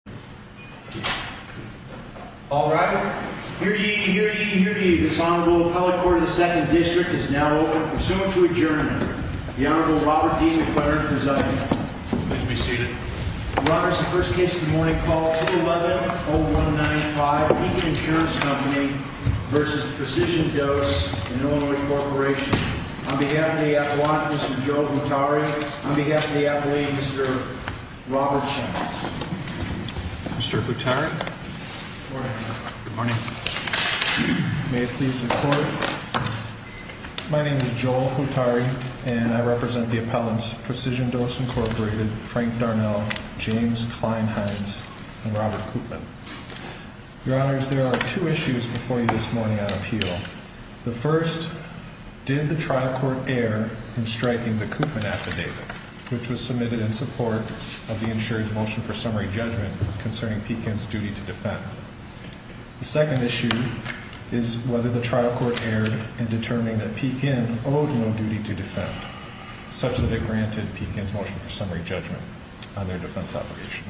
On behalf of the applicant, Mr. Joe Guattari, on behalf of the appellee, Mr. Robert Shanks. Mr. Guattari. Good morning. May it please the Court. My name is Joel Guattari, and I represent the appellants, Precision Dose, Inc., Frank Darnell, James Kleinheins, and Robert Koopman. Your Honors, there are two issues before you this morning on appeal. The first, did the trial court err in striking the Koopman affidavit, which was submitted in support of the insurance motion for summary judgment concerning Pekin's duty to defend? The second issue is whether the trial court erred in determining that Pekin owed no duty to defend, such that it granted Pekin's motion for summary judgment on their defense obligation.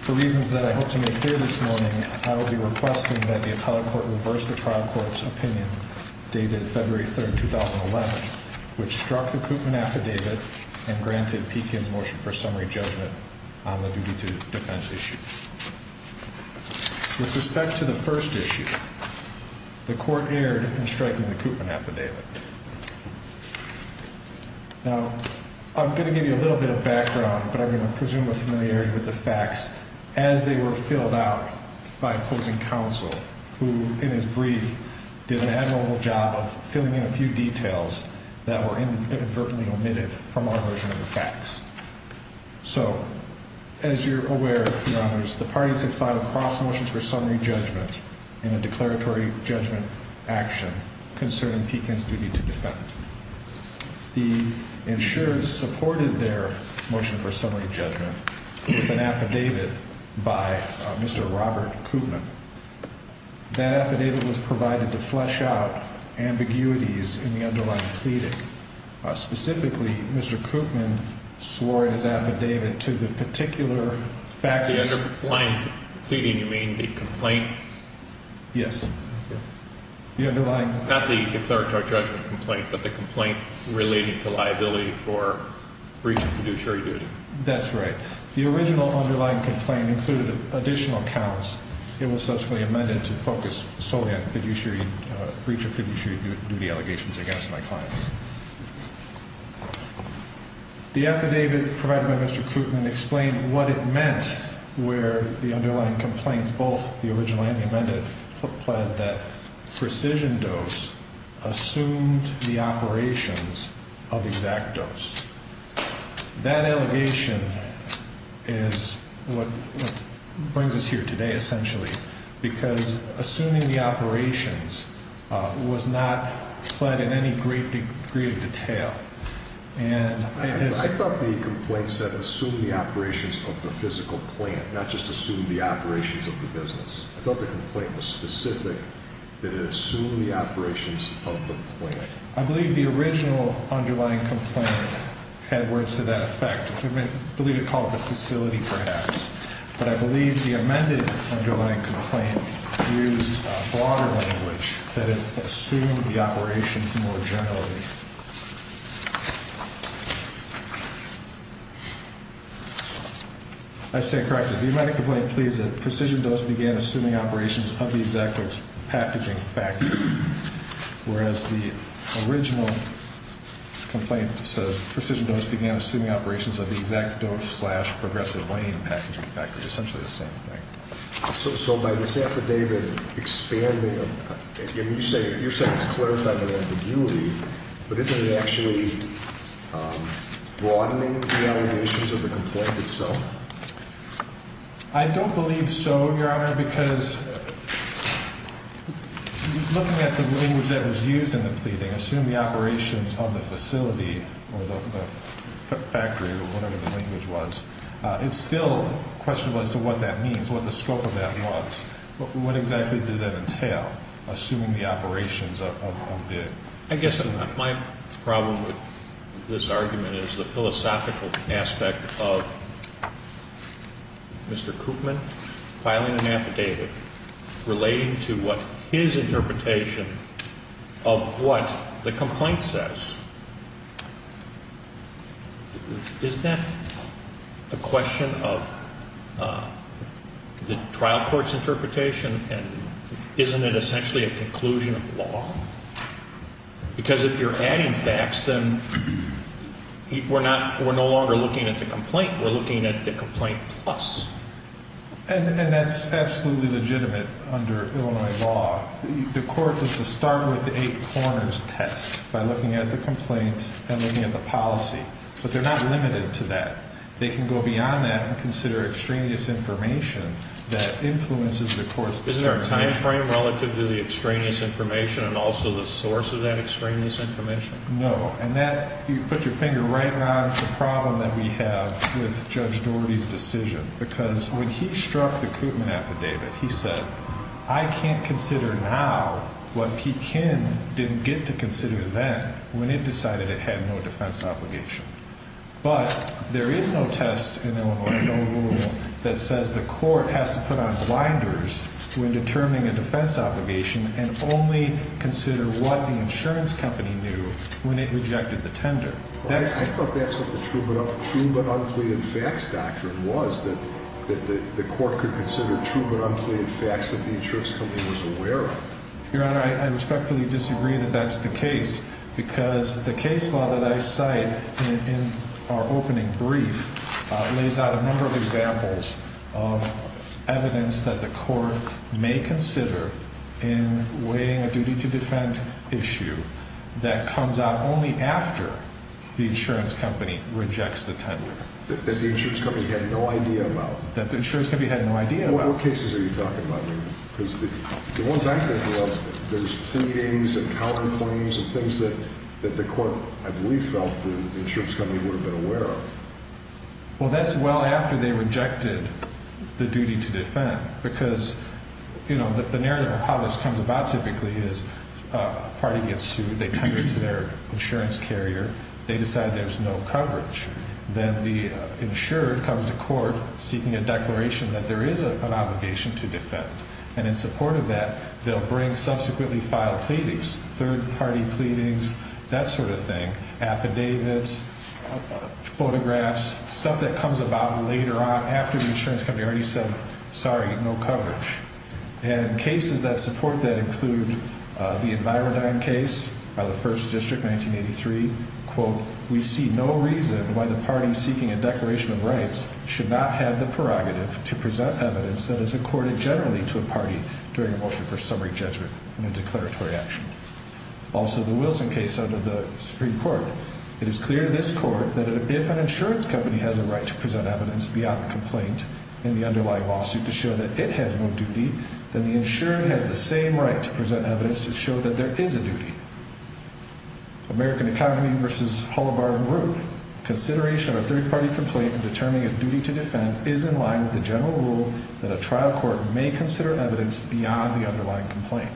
For reasons that I hope to make clear this morning, I will be requesting that the appellate court reverse the trial court's opinion dated February 3, 2011, which struck the Koopman affidavit and granted Pekin's motion for summary judgment on the duty to defend issue. With respect to the first issue, the court erred in striking the Koopman affidavit. Now, I'm going to give you a little bit of background, but I'm going to presume a familiarity with the facts as they were filled out by opposing counsel, who, in his brief, did an admirable job of filling in a few details that were inadvertently omitted from our version of the facts. So, as you're aware, Your Honors, the parties have filed cross motions for summary judgment in a declaratory judgment action concerning Pekin's duty to defend. The insurance supported their motion for summary judgment with an affidavit by Mr. Robert Koopman. That affidavit was provided to flesh out ambiguities in the underlying pleading. Specifically, Mr. Koopman swore in his affidavit to the particular facts... By the underlying pleading, you mean the complaint? Yes. Not the declaratory judgment complaint, but the complaint relating to liability for breach of fiduciary duty. That's right. The original underlying complaint included additional counts. It was subsequently amended to focus solely on breach of fiduciary duty allegations against my clients. The affidavit provided by Mr. Koopman explained what it meant where the underlying complaints, both the original and the amended, implied that precision dose assumed the operations of exact dose. That allegation is what brings us here today, essentially, because assuming the operations was not fled in any great degree of detail. I thought the complaint said assume the operations of the physical plant, not just assume the operations of the business. I thought the complaint was specific that it assumed the operations of the plant. I believe the original underlying complaint had words to that effect. I believe it called the facility perhaps. But I believe the amended underlying complaint used broader language that it assumed the operations more generally. I stand corrected. The amended complaint pleads that precision dose began assuming operations of the exact dose packaging factory, whereas the original complaint says precision dose began assuming operations of the exact dose slash progressive lane packaging factory, essentially the same thing. So by this affidavit expanding, you're saying it's clarifying an ambiguity, but isn't it actually broadening the allegations of the complaint itself? I don't believe so, Your Honor, because looking at the language that was used in the pleading, assume the operations of the facility or the factory or whatever the language was, it's still questionable as to what that means, what the scope of that was. What exactly did that entail, assuming the operations of the? I guess my problem with this argument is the philosophical aspect of Mr. Koopman filing an affidavit relating to what his interpretation of what the complaint says. Is that a question of the trial court's interpretation? And isn't it essentially a conclusion of law? Because if you're adding facts, then we're not we're no longer looking at the complaint. We're looking at the complaint plus. And that's absolutely legitimate under Illinois law. The court is to start with the eight corners test by looking at the complaint and looking at the policy. But they're not limited to that. They can go beyond that and consider extraneous information that influences the court's decision. Is there a time frame relative to the extraneous information and also the source of that extraneous information? No. And that you put your finger right on the problem that we have with Judge Doherty's decision. Because when he struck the Koopman affidavit, he said, I can't consider now what he can didn't get to consider that when it decided it had no defense obligation. But there is no test in Illinois law that says the court has to put on blinders when determining a defense obligation and only consider what the insurance company knew when it rejected the tender. I thought that's what the true but unpleaded facts doctrine was, that the court could consider true but unpleaded facts that the insurance company was aware of. Your Honor, I respectfully disagree that that's the case because the case law that I cite in our opening brief lays out a number of examples of evidence that the court may consider in weighing a duty to defend issue that comes out only after the insurance company rejects the tender. That the insurance company had no idea about. That the insurance company had no idea about. What cases are you talking about? Because the ones I'm thinking of, there's pleadings and counterclaims and things that the court, I believe, felt the insurance company would have been aware of. Well, that's well after they rejected the duty to defend. Because, you know, the narrative of how this comes about typically is a party gets sued. They tender to their insurance carrier. They decide there's no coverage. Then the insurer comes to court seeking a declaration that there is an obligation to defend. And in support of that, they'll bring subsequently filed pleadings, third-party pleadings, that sort of thing. Affidavits, photographs, stuff that comes about later on after the insurance company already said, sorry, no coverage. And cases that support that include the Envirodyne case of the 1st District 1983, quote, we see no reason why the party seeking a declaration of rights should not have the prerogative to present evidence that is accorded generally to a party during a motion for summary judgment and a declaratory action. Also, the Wilson case under the Supreme Court. It is clear to this court that if an insurance company has a right to present evidence beyond the complaint in the underlying lawsuit to show that it has no duty, then the insurer has the same right to present evidence to show that there is a duty. American Economy v. Hullabard and Root. Consideration of a third-party complaint in determining a duty to defend is in line with the general rule that a trial court may consider evidence beyond the underlying complaint.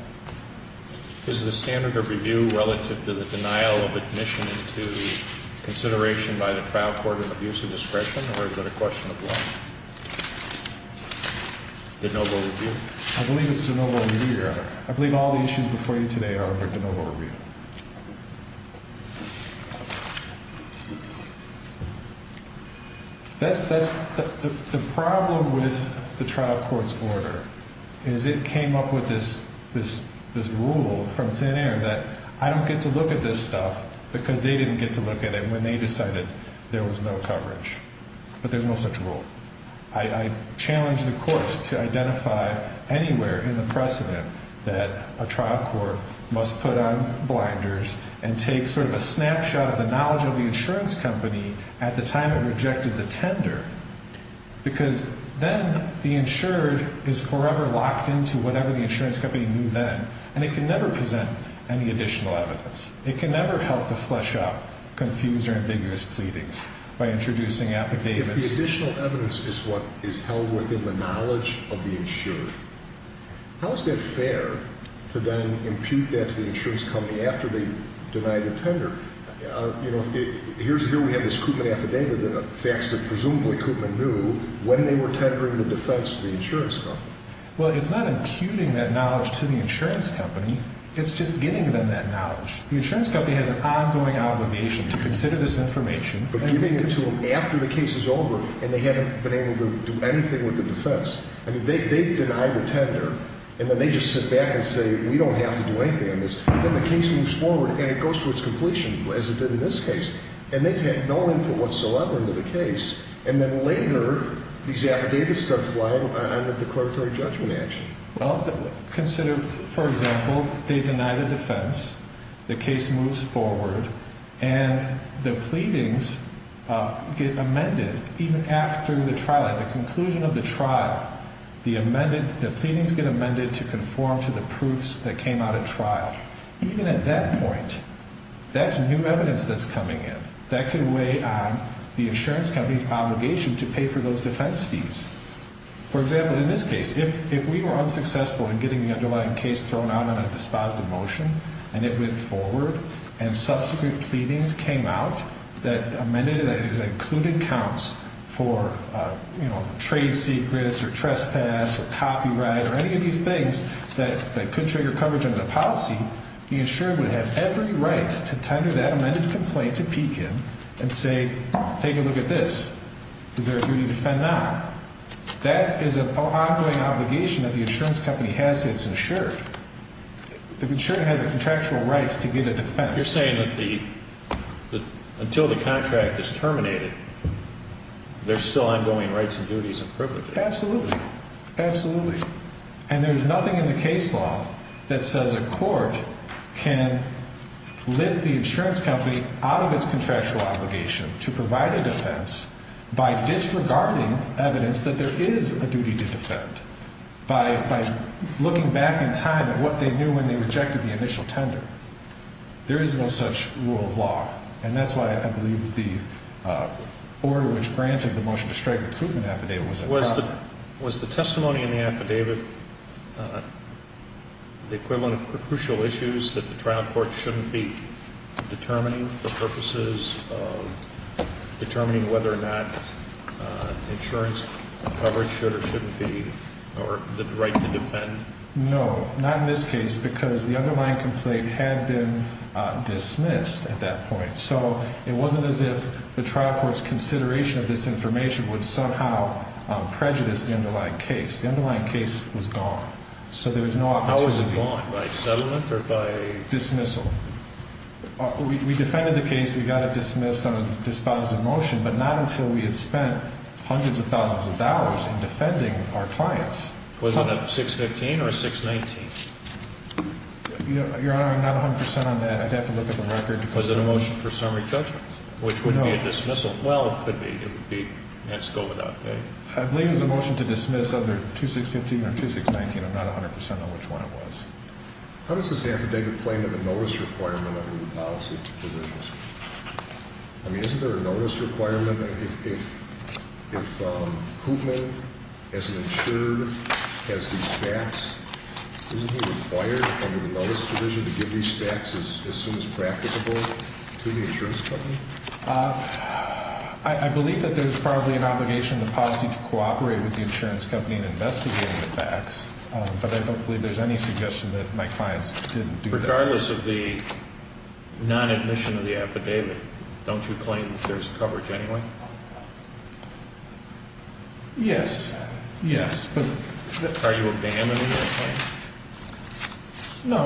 Is the standard of review relative to the denial of admission into consideration by the trial court of abuse of discretion, or is that a question of law? De novo review? I believe it's de novo review, Your Honor. I believe all the issues before you today are de novo review. That's the problem with the trial court's order, is it came up with this rule from thin air that I don't get to look at this stuff because they didn't get to look at it when they decided there was no coverage. But there's no such rule. I challenge the courts to identify anywhere in the precedent that a trial court must put on blinders and take sort of a snapshot of the knowledge of the insurance company at the time it rejected the tender, because then the insured is forever locked into whatever the insurance company knew then, and it can never present any additional evidence. It can never help to flesh out confused or ambiguous pleadings by introducing affidavits. If the additional evidence is what is held within the knowledge of the insured, how is that fair to then impute that to the insurance company after they deny the tender? Here we have this Koopman affidavit, the facts that presumably Koopman knew when they were tendering the defense to the insurance company. Well, it's not imputing that knowledge to the insurance company. It's just giving them that knowledge. The insurance company has an ongoing obligation to consider this information. But giving it to them after the case is over, and they haven't been able to do anything with the defense. I mean, they deny the tender, and then they just sit back and say, we don't have to do anything on this. Then the case moves forward, and it goes to its completion, as it did in this case. And they've had no input whatsoever into the case. And then later, these affidavits start flying on the declaratory judgment action. Well, consider, for example, they deny the defense, the case moves forward, and the pleadings get amended. Even after the trial, at the conclusion of the trial, the pleadings get amended to conform to the proofs that came out at trial. Even at that point, that's new evidence that's coming in. That could weigh on the insurance company's obligation to pay for those defense fees. For example, in this case, if we were unsuccessful in getting the underlying case thrown out on a dispositive motion, and it went forward, and subsequent pleadings came out that amended it, that included counts for trade secrets or trespass or copyright or any of these things that could trigger coverage under the policy, the insurer would have every right to tender that amended complaint to peek in and say, take a look at this. Is there a duty to defend not? That is an ongoing obligation that the insurance company has to its insurer. The insurer has the contractual rights to get a defense. You're saying that until the contract is terminated, there's still ongoing rights and duties and privileges? Absolutely. Absolutely. And there's nothing in the case law that says a court can lift the insurance company out of its contractual obligation to provide a defense by disregarding evidence that there is a duty to defend. By looking back in time at what they knew when they rejected the initial tender. There is no such rule of law. And that's why I believe the order which granted the motion to strike a recruitment affidavit was adopted. Was the testimony in the affidavit the equivalent of crucial issues that the trial court shouldn't be determining for purposes of determining whether or not insurance coverage should or shouldn't be or the right to defend? No, not in this case because the underlying complaint had been dismissed at that point. So it wasn't as if the trial court's consideration of this information would somehow prejudice the underlying case. The underlying case was gone. So there was no opportunity. How was it gone? By settlement or by? Dismissal. We defended the case. We got it dismissed on a dispositive motion, but not until we had spent hundreds of thousands of dollars in defending our clients. Was it a 615 or 619? Your Honor, I'm not 100% on that. I'd have to look at the record. Was it a motion for summary judgment? No. Which would be a dismissal? Well, it could be. It would be. Let's go with that. I believe it was a motion to dismiss under 2615 or 2619. I'm not 100% on which one it was. How does this affidavit play into the notice requirement under the policy provisions? I mean, isn't there a notice requirement? If Koopman, as an insurer, has these facts, isn't he required under the notice provision to give these facts as soon as practicable to the insurance company? I believe that there's probably an obligation in the policy to cooperate with the insurance company in investigating the facts. But I don't believe there's any suggestion that my clients didn't do that. Regardless of the non-admission of the affidavit, don't you claim that there's coverage anyway? Yes. Yes. Are you abandoning that claim? No.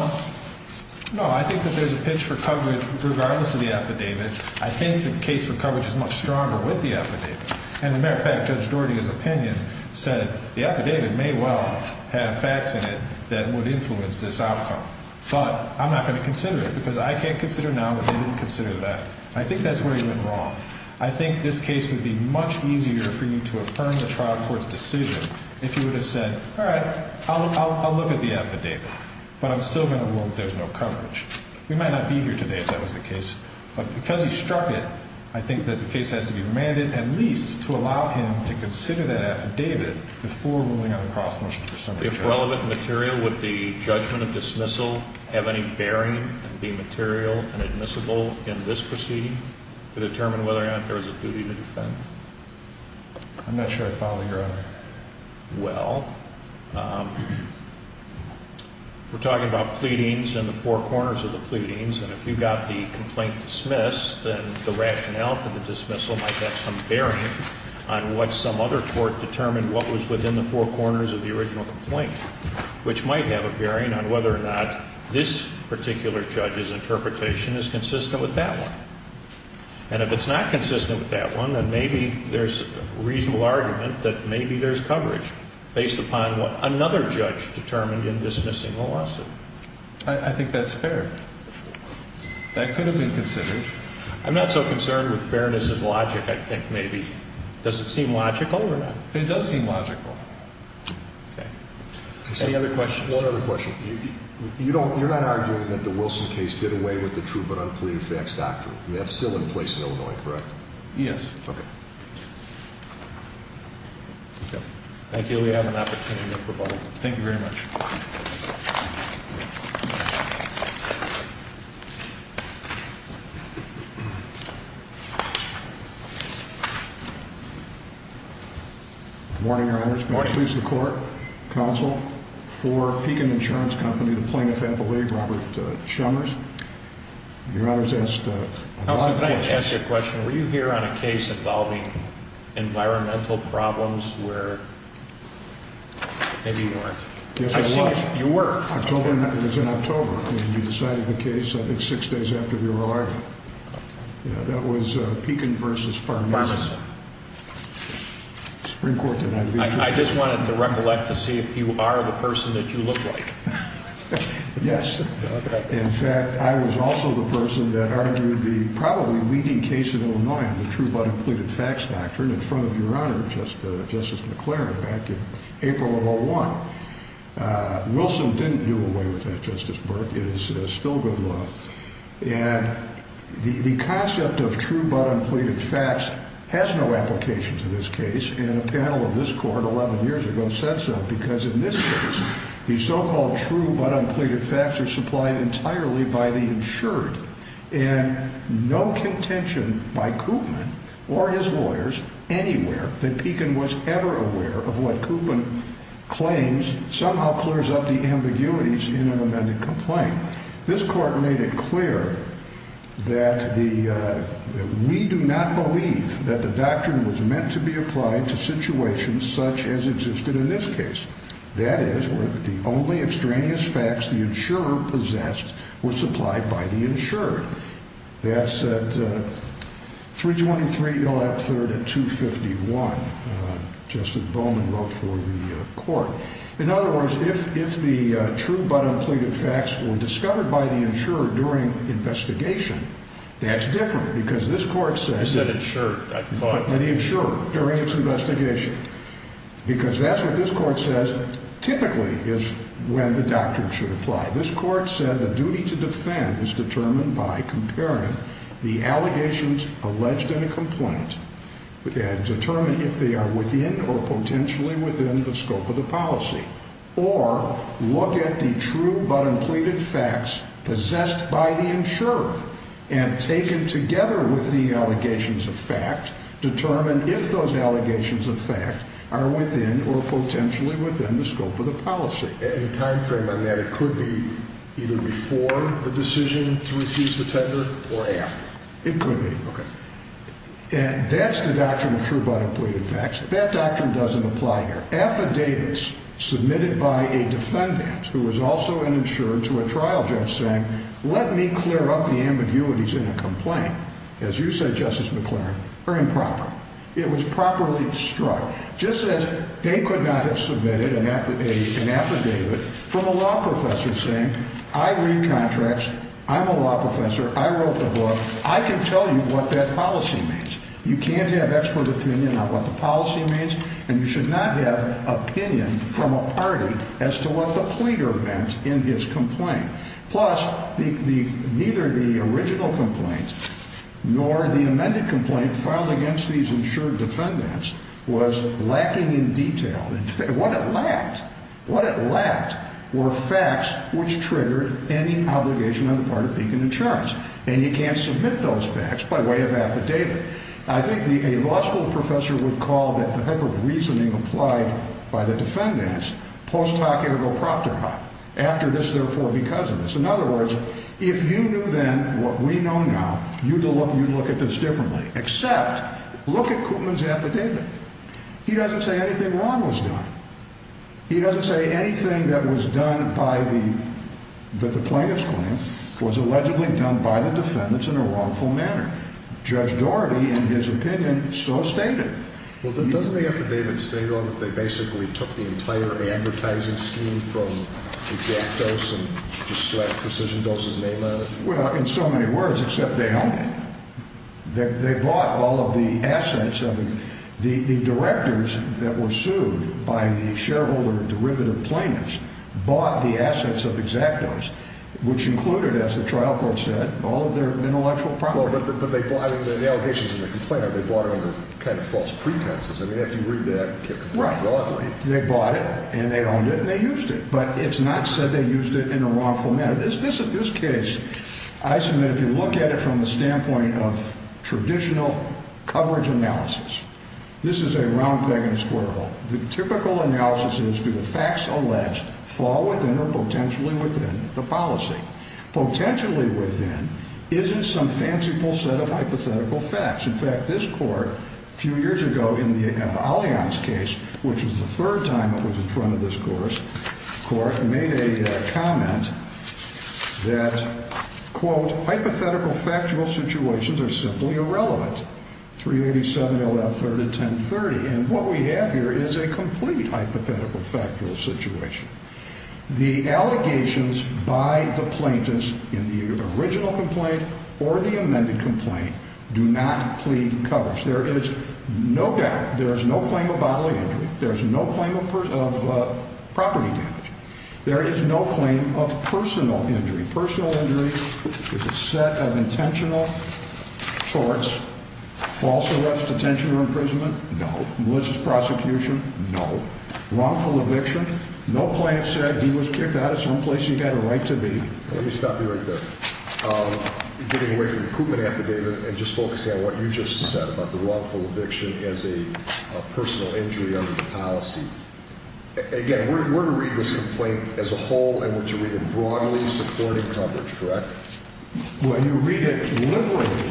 No, I think that there's a pitch for coverage regardless of the affidavit. I think the case for coverage is much stronger with the affidavit. And, as a matter of fact, Judge Doherty's opinion said the affidavit may well have facts in it that would influence this outcome. But I'm not going to consider it, because I can't consider now that they didn't consider that. I think that's where he went wrong. I think this case would be much easier for you to affirm the trial court's decision if you would have said, all right, I'll look at the affidavit, but I'm still going to rule that there's no coverage. We might not be here today if that was the case. But because he struck it, I think that the case has to be remanded at least to allow him to consider that affidavit before ruling on the cross-motion for summary charges. If relevant material, would the judgment of dismissal have any bearing and be material and admissible in this proceeding to determine whether or not there was a duty to defend? I'm not sure I follow, Your Honor. Well, we're talking about pleadings and the four corners of the pleadings. And if you got the complaint dismissed, then the rationale for the dismissal might have some bearing on what some other court determined what was within the four corners of the original complaint, which might have a bearing on whether or not this particular judge's interpretation is consistent with that one. And if it's not consistent with that one, then maybe there's a reasonable argument that maybe there's coverage based upon what another judge determined in dismissing the lawsuit. I think that's fair. That could have been considered. I'm not so concerned with fairness as logic, I think, maybe. Does it seem logical or not? It does seem logical. Okay. Any other questions? One other question. You're not arguing that the Wilson case did away with the true but unpleaded facts doctrine. That's still in place in Illinois, correct? Yes. Okay. Thank you. We have an opportunity for rebuttal. Thank you very much. Good morning, Your Honors. Good morning. May it please the Court, Counsel for Pekin Insurance Company, the plaintiff at the league, Robert Shummers. Your Honor has asked a lot of questions. Counsel, can I ask you a question? Were you here on a case involving environmental problems where maybe you weren't? Yes, I was. You were. It was in October. You decided the case, I think, six days after the oral argument. Okay. That was Pekin v. Farnes. Farnes. The Supreme Court did not veto. I just wanted to recollect to see if you are the person that you look like. Yes. In fact, I was also the person that argued the probably leading case in Illinois on the true but unpleaded facts doctrine in front of Your Honor, Justice McLaren, back in April of 2001. Wilson didn't do away with that, Justice Burke. It is still good law. And the concept of true but unpleaded facts has no application to this case, and a panel of this Court 11 years ago said so because in this case, the so-called true but unpleaded facts are supplied entirely by the insured and no contention by Koopman or his lawyers anywhere that Pekin was ever aware of what Koopman claims somehow clears up the ambiguities in an amended complaint. This Court made it clear that we do not believe that the doctrine was meant to be applied to situations such as existed in this case. That is, the only extraneous facts the insurer possessed were supplied by the insured. That said, 323, you'll have a third at 251, Justice Bowman wrote for the Court. In other words, if the true but unpleaded facts were discovered by the insurer during investigation, that's different because this Court says... I said insured, I thought... By the insurer during its investigation. Because that's what this Court says typically is when the doctrine should apply. This Court said the duty to defend is determined by comparing the allegations alleged in a complaint and determine if they are within or potentially within the scope of the policy or look at the true but unpleaded facts possessed by the insurer and taken together with the allegations of fact, determine if those allegations of fact are within or potentially within the scope of the policy. In the time frame on that, it could be either before the decision to refuse the tender or after. It could be. Okay. That's the doctrine of true but unpleaded facts. That doctrine doesn't apply here. Affidavits submitted by a defendant who was also an insured to a trial judge saying, let me clear up the ambiguities in a complaint, as you said, Justice McLaren, are improper. It was properly struck. Just as they could not have submitted an affidavit from a law professor saying, I read contracts, I'm a law professor, I wrote the book, I can tell you what that policy means. You can't have expert opinion on what the policy means and you should not have opinion from a party as to what the pleader meant in his complaint. Plus, neither the original complaint nor the amended complaint filed against these insured defendants was lacking in detail. What it lacked, what it lacked were facts which triggered any obligation on the part of Beacon Insurance. And you can't submit those facts by way of affidavit. I think a law school professor would call that the type of reasoning applied by the defendants post hoc ergo proctor hoc. After this, therefore, because of this. In other words, if you knew then what we know now, you'd look at this differently. Except, look at Koopman's affidavit. He doesn't say anything wrong was done. He doesn't say anything that was done by the, that the plaintiff's claim was allegedly done by the defendants in a wrongful manner. Judge Daugherty, in his opinion, so stated. Well, doesn't the affidavit say, though, that they basically took the entire advertising scheme from X-Actos and just slapped Precision Dose's name on it? Well, in so many words, except they owned it. They bought all of the assets. I mean, the directors that were sued by the shareholder derivative plaintiffs bought the assets of X-Actos, which included, as the trial court said, all of their intellectual property. But the allegations in the complaint are they bought it under kind of false pretenses. I mean, if you read that broadly. Right. They bought it, and they owned it, and they used it. But it's not said they used it in a wrongful manner. This case, Eisenman, if you look at it from the standpoint of traditional coverage analysis, this is a round peg in a square hole. The typical analysis is do the facts alleged fall within or potentially within the policy? Potentially within isn't some fanciful set of hypothetical facts. In fact, this court a few years ago in the Allianz case, which was the third time it was in front of this court, made a comment that, quote, hypothetical factual situations are simply irrelevant. 387.113.1030. And what we have here is a complete hypothetical factual situation. The allegations by the plaintiffs in the original complaint or the amended complaint do not plead coverage. There is no doubt. There is no claim of bodily injury. There is no claim of property damage. There is no claim of personal injury. Personal injury is a set of intentional torts, false arrest, detention or imprisonment? No. Malicious prosecution? No. Wrongful eviction? No plaintiff said he was kicked out of some place he had a right to be. Let me stop you right there. Getting away from the Coopman affidavit and just focusing on what you just said about the wrongful eviction as a personal injury under the policy. Again, we're going to read this complaint as a whole and we're to read it broadly supporting coverage, correct? Well, you read it liberally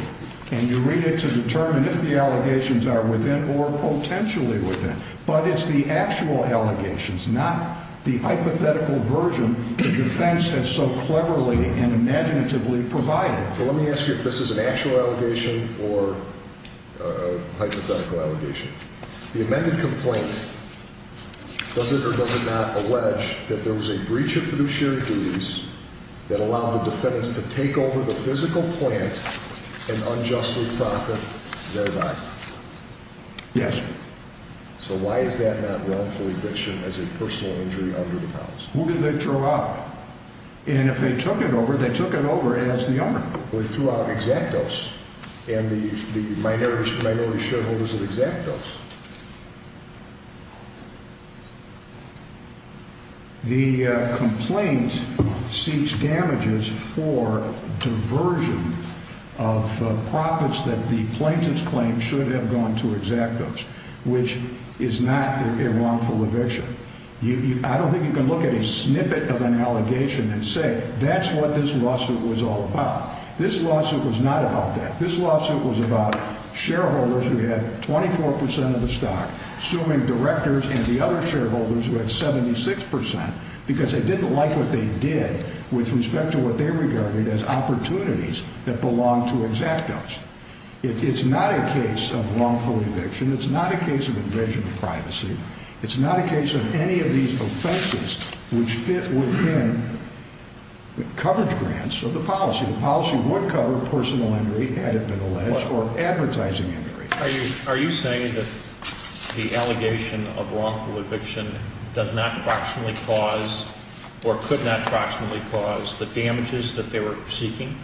and you read it to determine if the allegations are within or potentially within. But it's the actual allegations, not the hypothetical version the defense has so cleverly and imaginatively provided. Let me ask you if this is an actual allegation or a hypothetical allegation. The amended complaint, does it or does it not allege that there was a breach of fiduciary duties that allowed the defendants to take over the physical plant and unjustly profit thereby? Yes. So why is that not wrongful eviction as a personal injury under the policy? Who did they throw out? And if they took it over, they took it over as the owner. They threw out exactos and the minority shareholders of exactos. The complaint seeks damages for diversion of profits that the plaintiff's claim should have gone to exactos, which is not a wrongful eviction. I don't think you can look at a snippet of an allegation and say that's what this lawsuit was all about. This lawsuit was not about that. This lawsuit was about shareholders who had 24 percent of the stock, assuming directors and the other shareholders who had 76 percent, because they didn't like what they did with respect to what they regarded as opportunities that belonged to exactos. It's not a case of wrongful eviction. It's not a case of invasion of privacy. It's not a case of any of these offenses which fit within the coverage grants of the policy. The policy would cover personal injury had it been alleged or advertising injury. Are you saying that the allegation of wrongful eviction does not approximately cause or could not approximately cause the damages that they were seeking?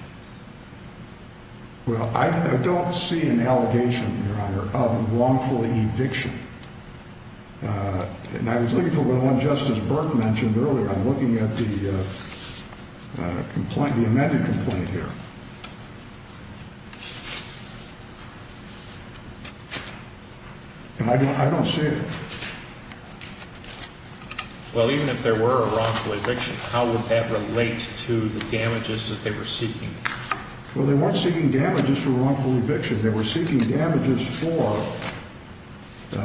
Well, I don't see an allegation, Your Honor, of wrongful eviction. And I was looking for one Justice Burke mentioned earlier. I'm looking at the complaint, the amended complaint here. And I don't see it. Well, even if there were a wrongful eviction, how would that relate to the damages that they were seeking? Well, they weren't seeking damages for wrongful eviction. They were seeking damages for,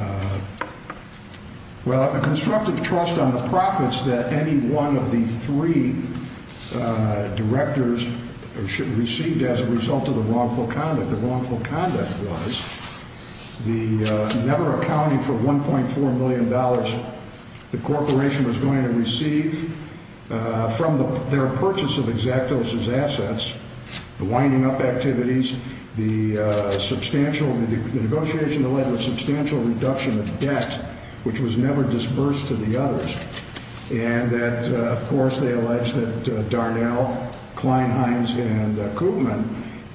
well, a constructive trust on the profits that any one of the three directors received as a result of the wrongful conduct. The wrongful conduct was the never accounting for $1.4 million the corporation was going to receive from their purchase of exactos' assets, the winding up activities, the negotiation that led to a substantial reduction of debt, which was never disbursed to the others, and that, of course, they alleged that Darnell, Kline, Hines, and Koopman,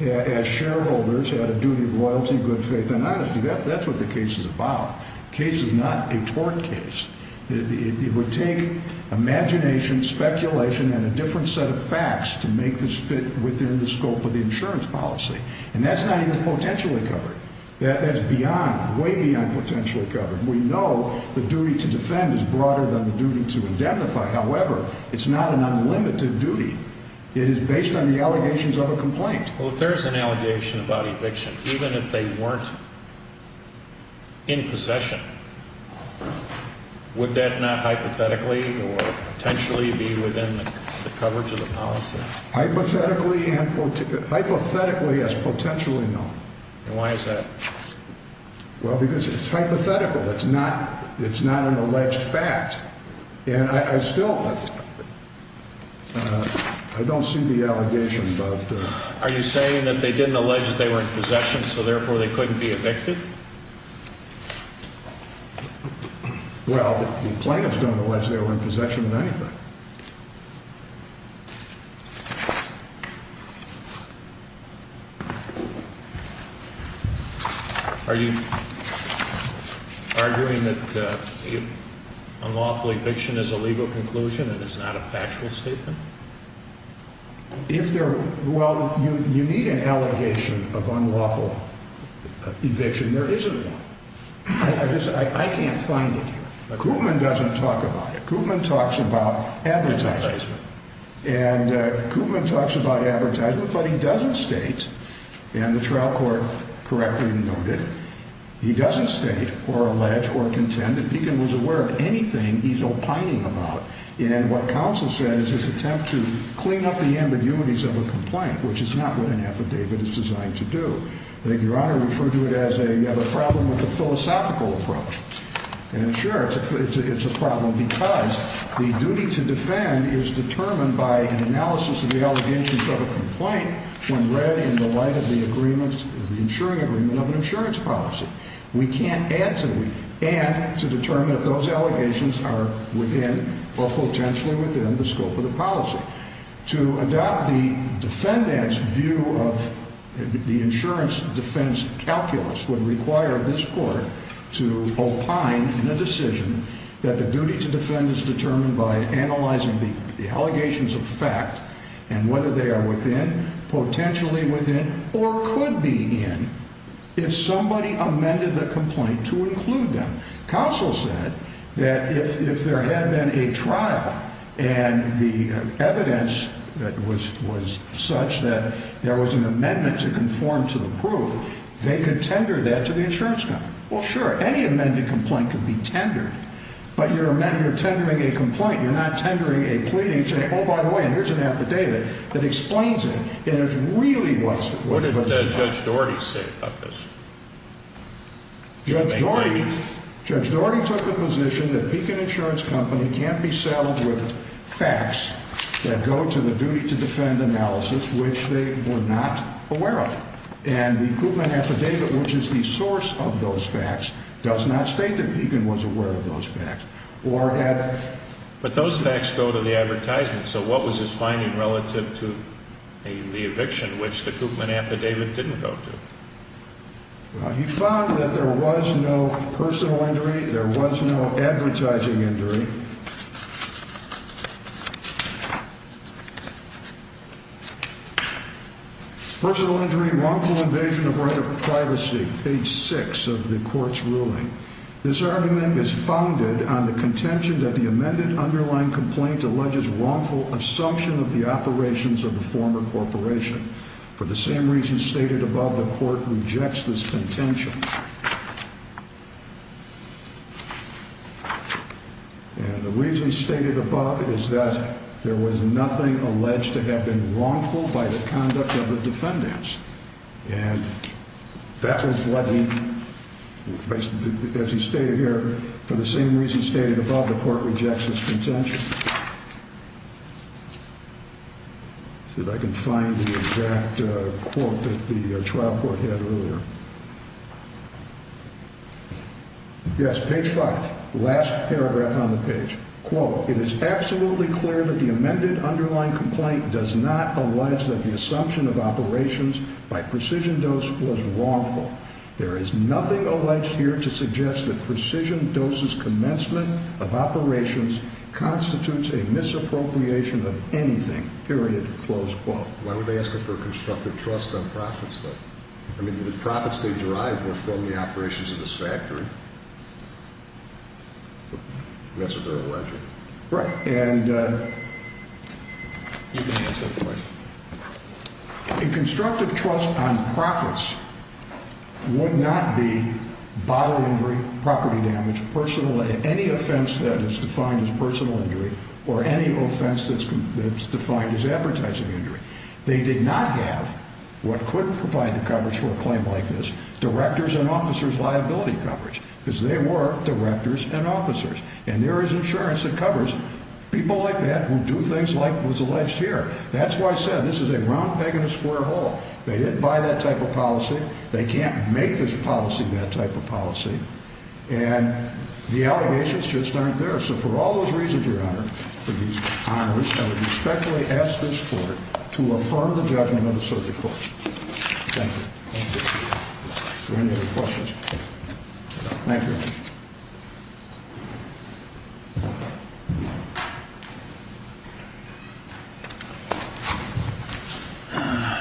as shareholders, had a duty of loyalty, good faith, and honesty. That's what the case is about. The case is not a tort case. It would take imagination, speculation, and a different set of facts to make this fit within the scope of the insurance policy, and that's not even potentially covered. That's beyond, way beyond potentially covered. We know the duty to defend is broader than the duty to identify. However, it's not an unlimited duty. It is based on the allegations of a complaint. Well, if there's an allegation about eviction, even if they weren't in possession, would that not hypothetically or potentially be within the coverage of the policy? Hypothetically and hypothetically as potentially no. And why is that? Well, because it's hypothetical. It's not an alleged fact. And I still, I don't see the allegation, but. Are you saying that they didn't allege that they were in possession, so therefore they couldn't be evicted? Well, the plaintiffs don't allege they were in possession of anything. Are you arguing that unlawful eviction is a legal conclusion and it's not a factual statement? If there, well, you need an allegation of unlawful eviction. There isn't one. I just, I can't find it here. Koopman doesn't talk about it. Koopman talks about advertisement. And Koopman talks about advertisement, but he doesn't state, and the trial court correctly noted, he doesn't state or allege or contend that Beacon was aware of anything he's opining about. And what counsel said is his attempt to clean up the ambiguities of a complaint, which is not what an affidavit is designed to do. I think Your Honor referred to it as a problem with the philosophical approach. And sure, it's a problem because the duty to defend is determined by an analysis of the allegations of a complaint when read in the light of the insurance agreement of an insurance policy. We can't add to it and to determine if those allegations are within or potentially within the scope of the policy. To adopt the defendant's view of the insurance defense calculus would require this court to opine in a decision that the duty to defend is determined by analyzing the allegations of fact and whether they are within, potentially within, or could be in, if somebody amended the complaint to include them. Counsel said that if there had been a trial and the evidence was such that there was an amendment to conform to the proof, they could tender that to the insurance company. Well, sure, any amended complaint could be tendered. But you're tendering a complaint. You're not tendering a pleading saying, oh, by the way, here's an affidavit that explains it. It really was. What did Judge Doherty say about this? Judge Doherty took the position that Pekin Insurance Company can't be settled with facts that go to the duty to defend analysis, which they were not aware of. And the Koopman affidavit, which is the source of those facts, does not state that Pekin was aware of those facts. But those facts go to the advertisement. So what was his finding relative to the eviction, which the Koopman affidavit didn't go to? He found that there was no personal injury. There was no advertising injury. Personal injury, wrongful invasion of right of privacy, page six of the court's ruling. This argument is founded on the contention that the amended underlying complaint alleges wrongful assumption of the operations of the former corporation. For the same reasons stated above, the court rejects this contention. And the reason stated above is that there was nothing alleged to have been wrongful by the conduct of the defendants. And that was what he, as he stated here, for the same reasons stated above, the court rejects this contention. Let's see if I can find the exact quote that the trial court had earlier. Yes, page five, last paragraph on the page. Quote, it is absolutely clear that the amended underlying complaint does not allege that the assumption of operations by Precision Dose was wrongful. There is nothing alleged here to suggest that Precision Dose's commencement of operations constitutes a misappropriation of anything, period, close quote. Why would they ask him for constructive trust on profits, though? I mean, the profits they derived were from the operations of this factory. That's what they're alleging. Right. And you can answer the question. A constructive trust on profits would not be bodily injury, property damage, personal, any offense that is defined as personal injury, or any offense that's defined as advertising injury. They did not have what could provide the coverage for a claim like this, directors and officers' liability coverage, because they were directors and officers. And there is insurance that covers people like that who do things like was alleged here. That's why I said this is a round peg in a square hole. They didn't buy that type of policy. They can't make this policy that type of policy. And the allegations just aren't there. So for all those reasons, Your Honor, for these honors, I would respectfully ask this court to affirm the judgment of the Supreme Court. Thank you. Thank you. Are there any other questions? Thank you.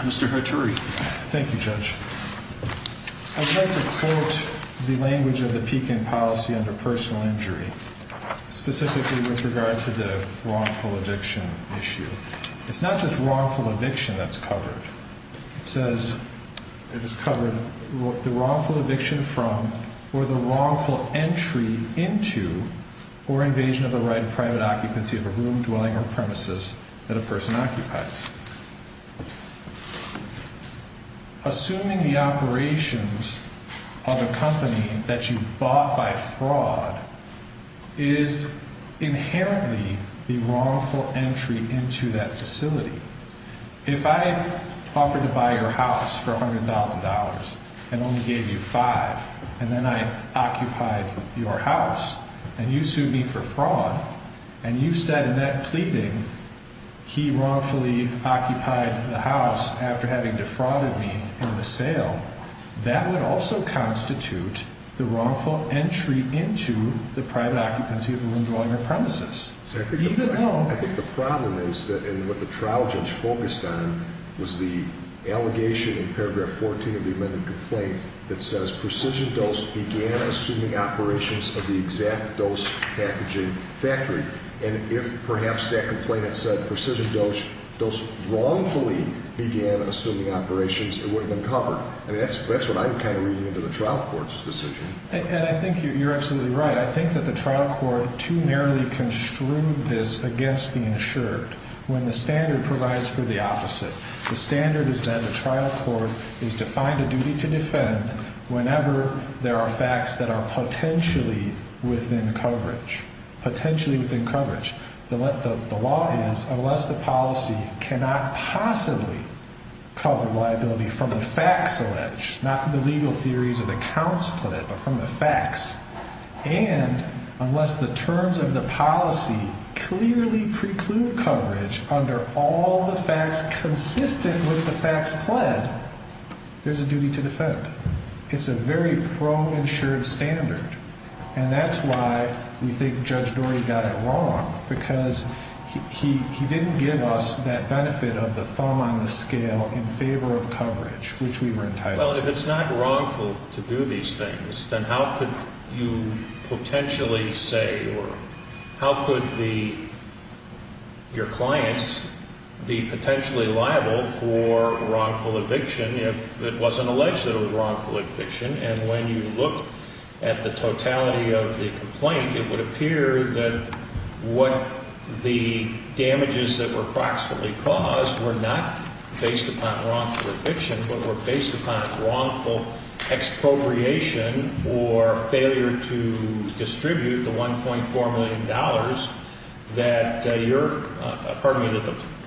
Mr. Hattori. Thank you, Judge. I'd like to quote the language of the Pekin policy under personal injury. Specifically with regard to the wrongful eviction issue. It's not just wrongful eviction that's covered. It says it has covered the wrongful eviction from or the wrongful entry into or invasion of the right of private occupancy of a room, dwelling, or premises that a person occupies. Assuming the operations of a company that you bought by fraud is inherently the wrongful entry into that facility. If I offered to buy your house for $100,000 and only gave you five, and then I occupied your house, and you sued me for fraud, and you said in that pleading he wrongfully occupied the house after having defrauded me in the sale, that would also constitute the wrongful entry into the private occupancy of a room, dwelling, or premises. I think the problem is, and what the trial judge focused on, was the allegation in paragraph 14 of the amended complaint that says precision dose began assuming operations of the exact dose packaging factory. And if perhaps that complaint had said precision dose wrongfully began assuming operations, it wouldn't have been covered. I mean, that's what I'm kind of reading into the trial court's decision. And I think you're absolutely right. I think that the trial court too narrowly construed this against the insured when the standard provides for the opposite. The standard is that the trial court is defined a duty to defend whenever there are facts that are potentially within coverage. Potentially within coverage. The law is, unless the policy cannot possibly cover liability from the facts alleged, not the legal theories of the counts pled, but from the facts, and unless the terms of the policy clearly preclude coverage under all the facts consistent with the facts pled, there's a duty to defend. It's a very pro-insured standard. And that's why we think Judge Dorey got it wrong, because he didn't give us that benefit of the thumb on the scale in favor of coverage, which we were entitled to. It would appear that what the damages that were approximately caused were not based upon wrongful eviction, but were based upon wrongful expropriation or failure to distribute the $1.4 million that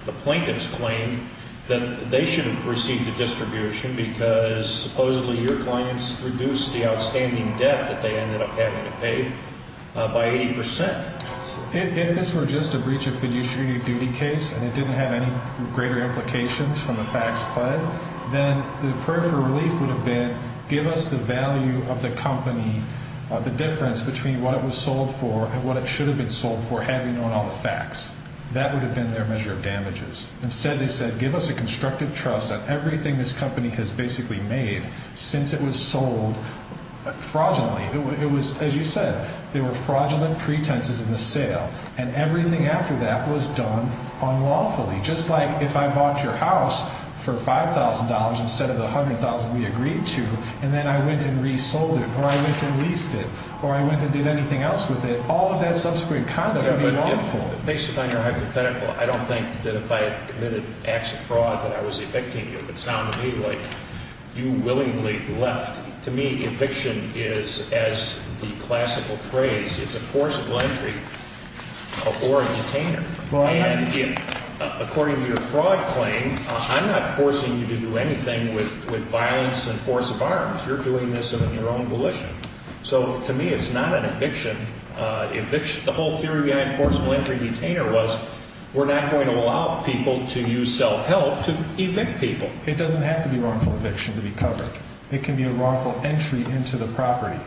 the plaintiffs claimed that they should have received the distribution, because supposedly your clients reduced the outstanding debt that they ended up having to pay by 80%. If this were just a breach of fiduciary duty case and it didn't have any greater implications from the facts pled, then the prayer for relief would have been give us the value of the company, the difference between what it was sold for and what it should have been sold for, having known all the facts. That would have been their measure of damages. Instead, they said give us a constructive trust on everything this company has basically made since it was sold fraudulently. It was, as you said, there were fraudulent pretenses in the sale, and everything after that was done unlawfully, just like if I bought your house for $5,000 instead of the $100,000 we agreed to, and then I went and resold it or I went and leased it or I went and did anything else with it, all of that subsequent conduct would be lawful. But based upon your hypothetical, I don't think that if I had committed acts of fraud that I was evicting you, it would sound to me like you willingly left. To me, eviction is, as the classical phrase, it's a forcible entry or a detainer. And according to your fraud claim, I'm not forcing you to do anything with violence and force of arms. You're doing this in your own volition. So to me, it's not an eviction. The whole theory behind forcible entry and detainer was we're not going to allow people to use self-help to evict people. It doesn't have to be wrongful eviction to be covered. It can be a wrongful entry into the property.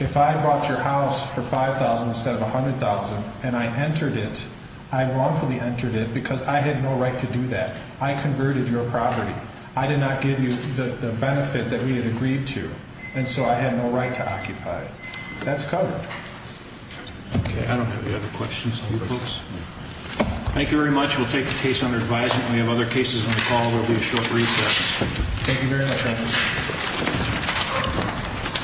If I bought your house for $5,000 instead of $100,000 and I entered it, I wrongfully entered it because I had no right to do that. I converted your property. I did not give you the benefit that we had agreed to, and so I had no right to occupy it. That's covered. Okay, I don't have any other questions for you folks. Thank you very much. We'll take the case under advisement. We have other cases on the call. There will be a short recess. Thank you very much. Thank you.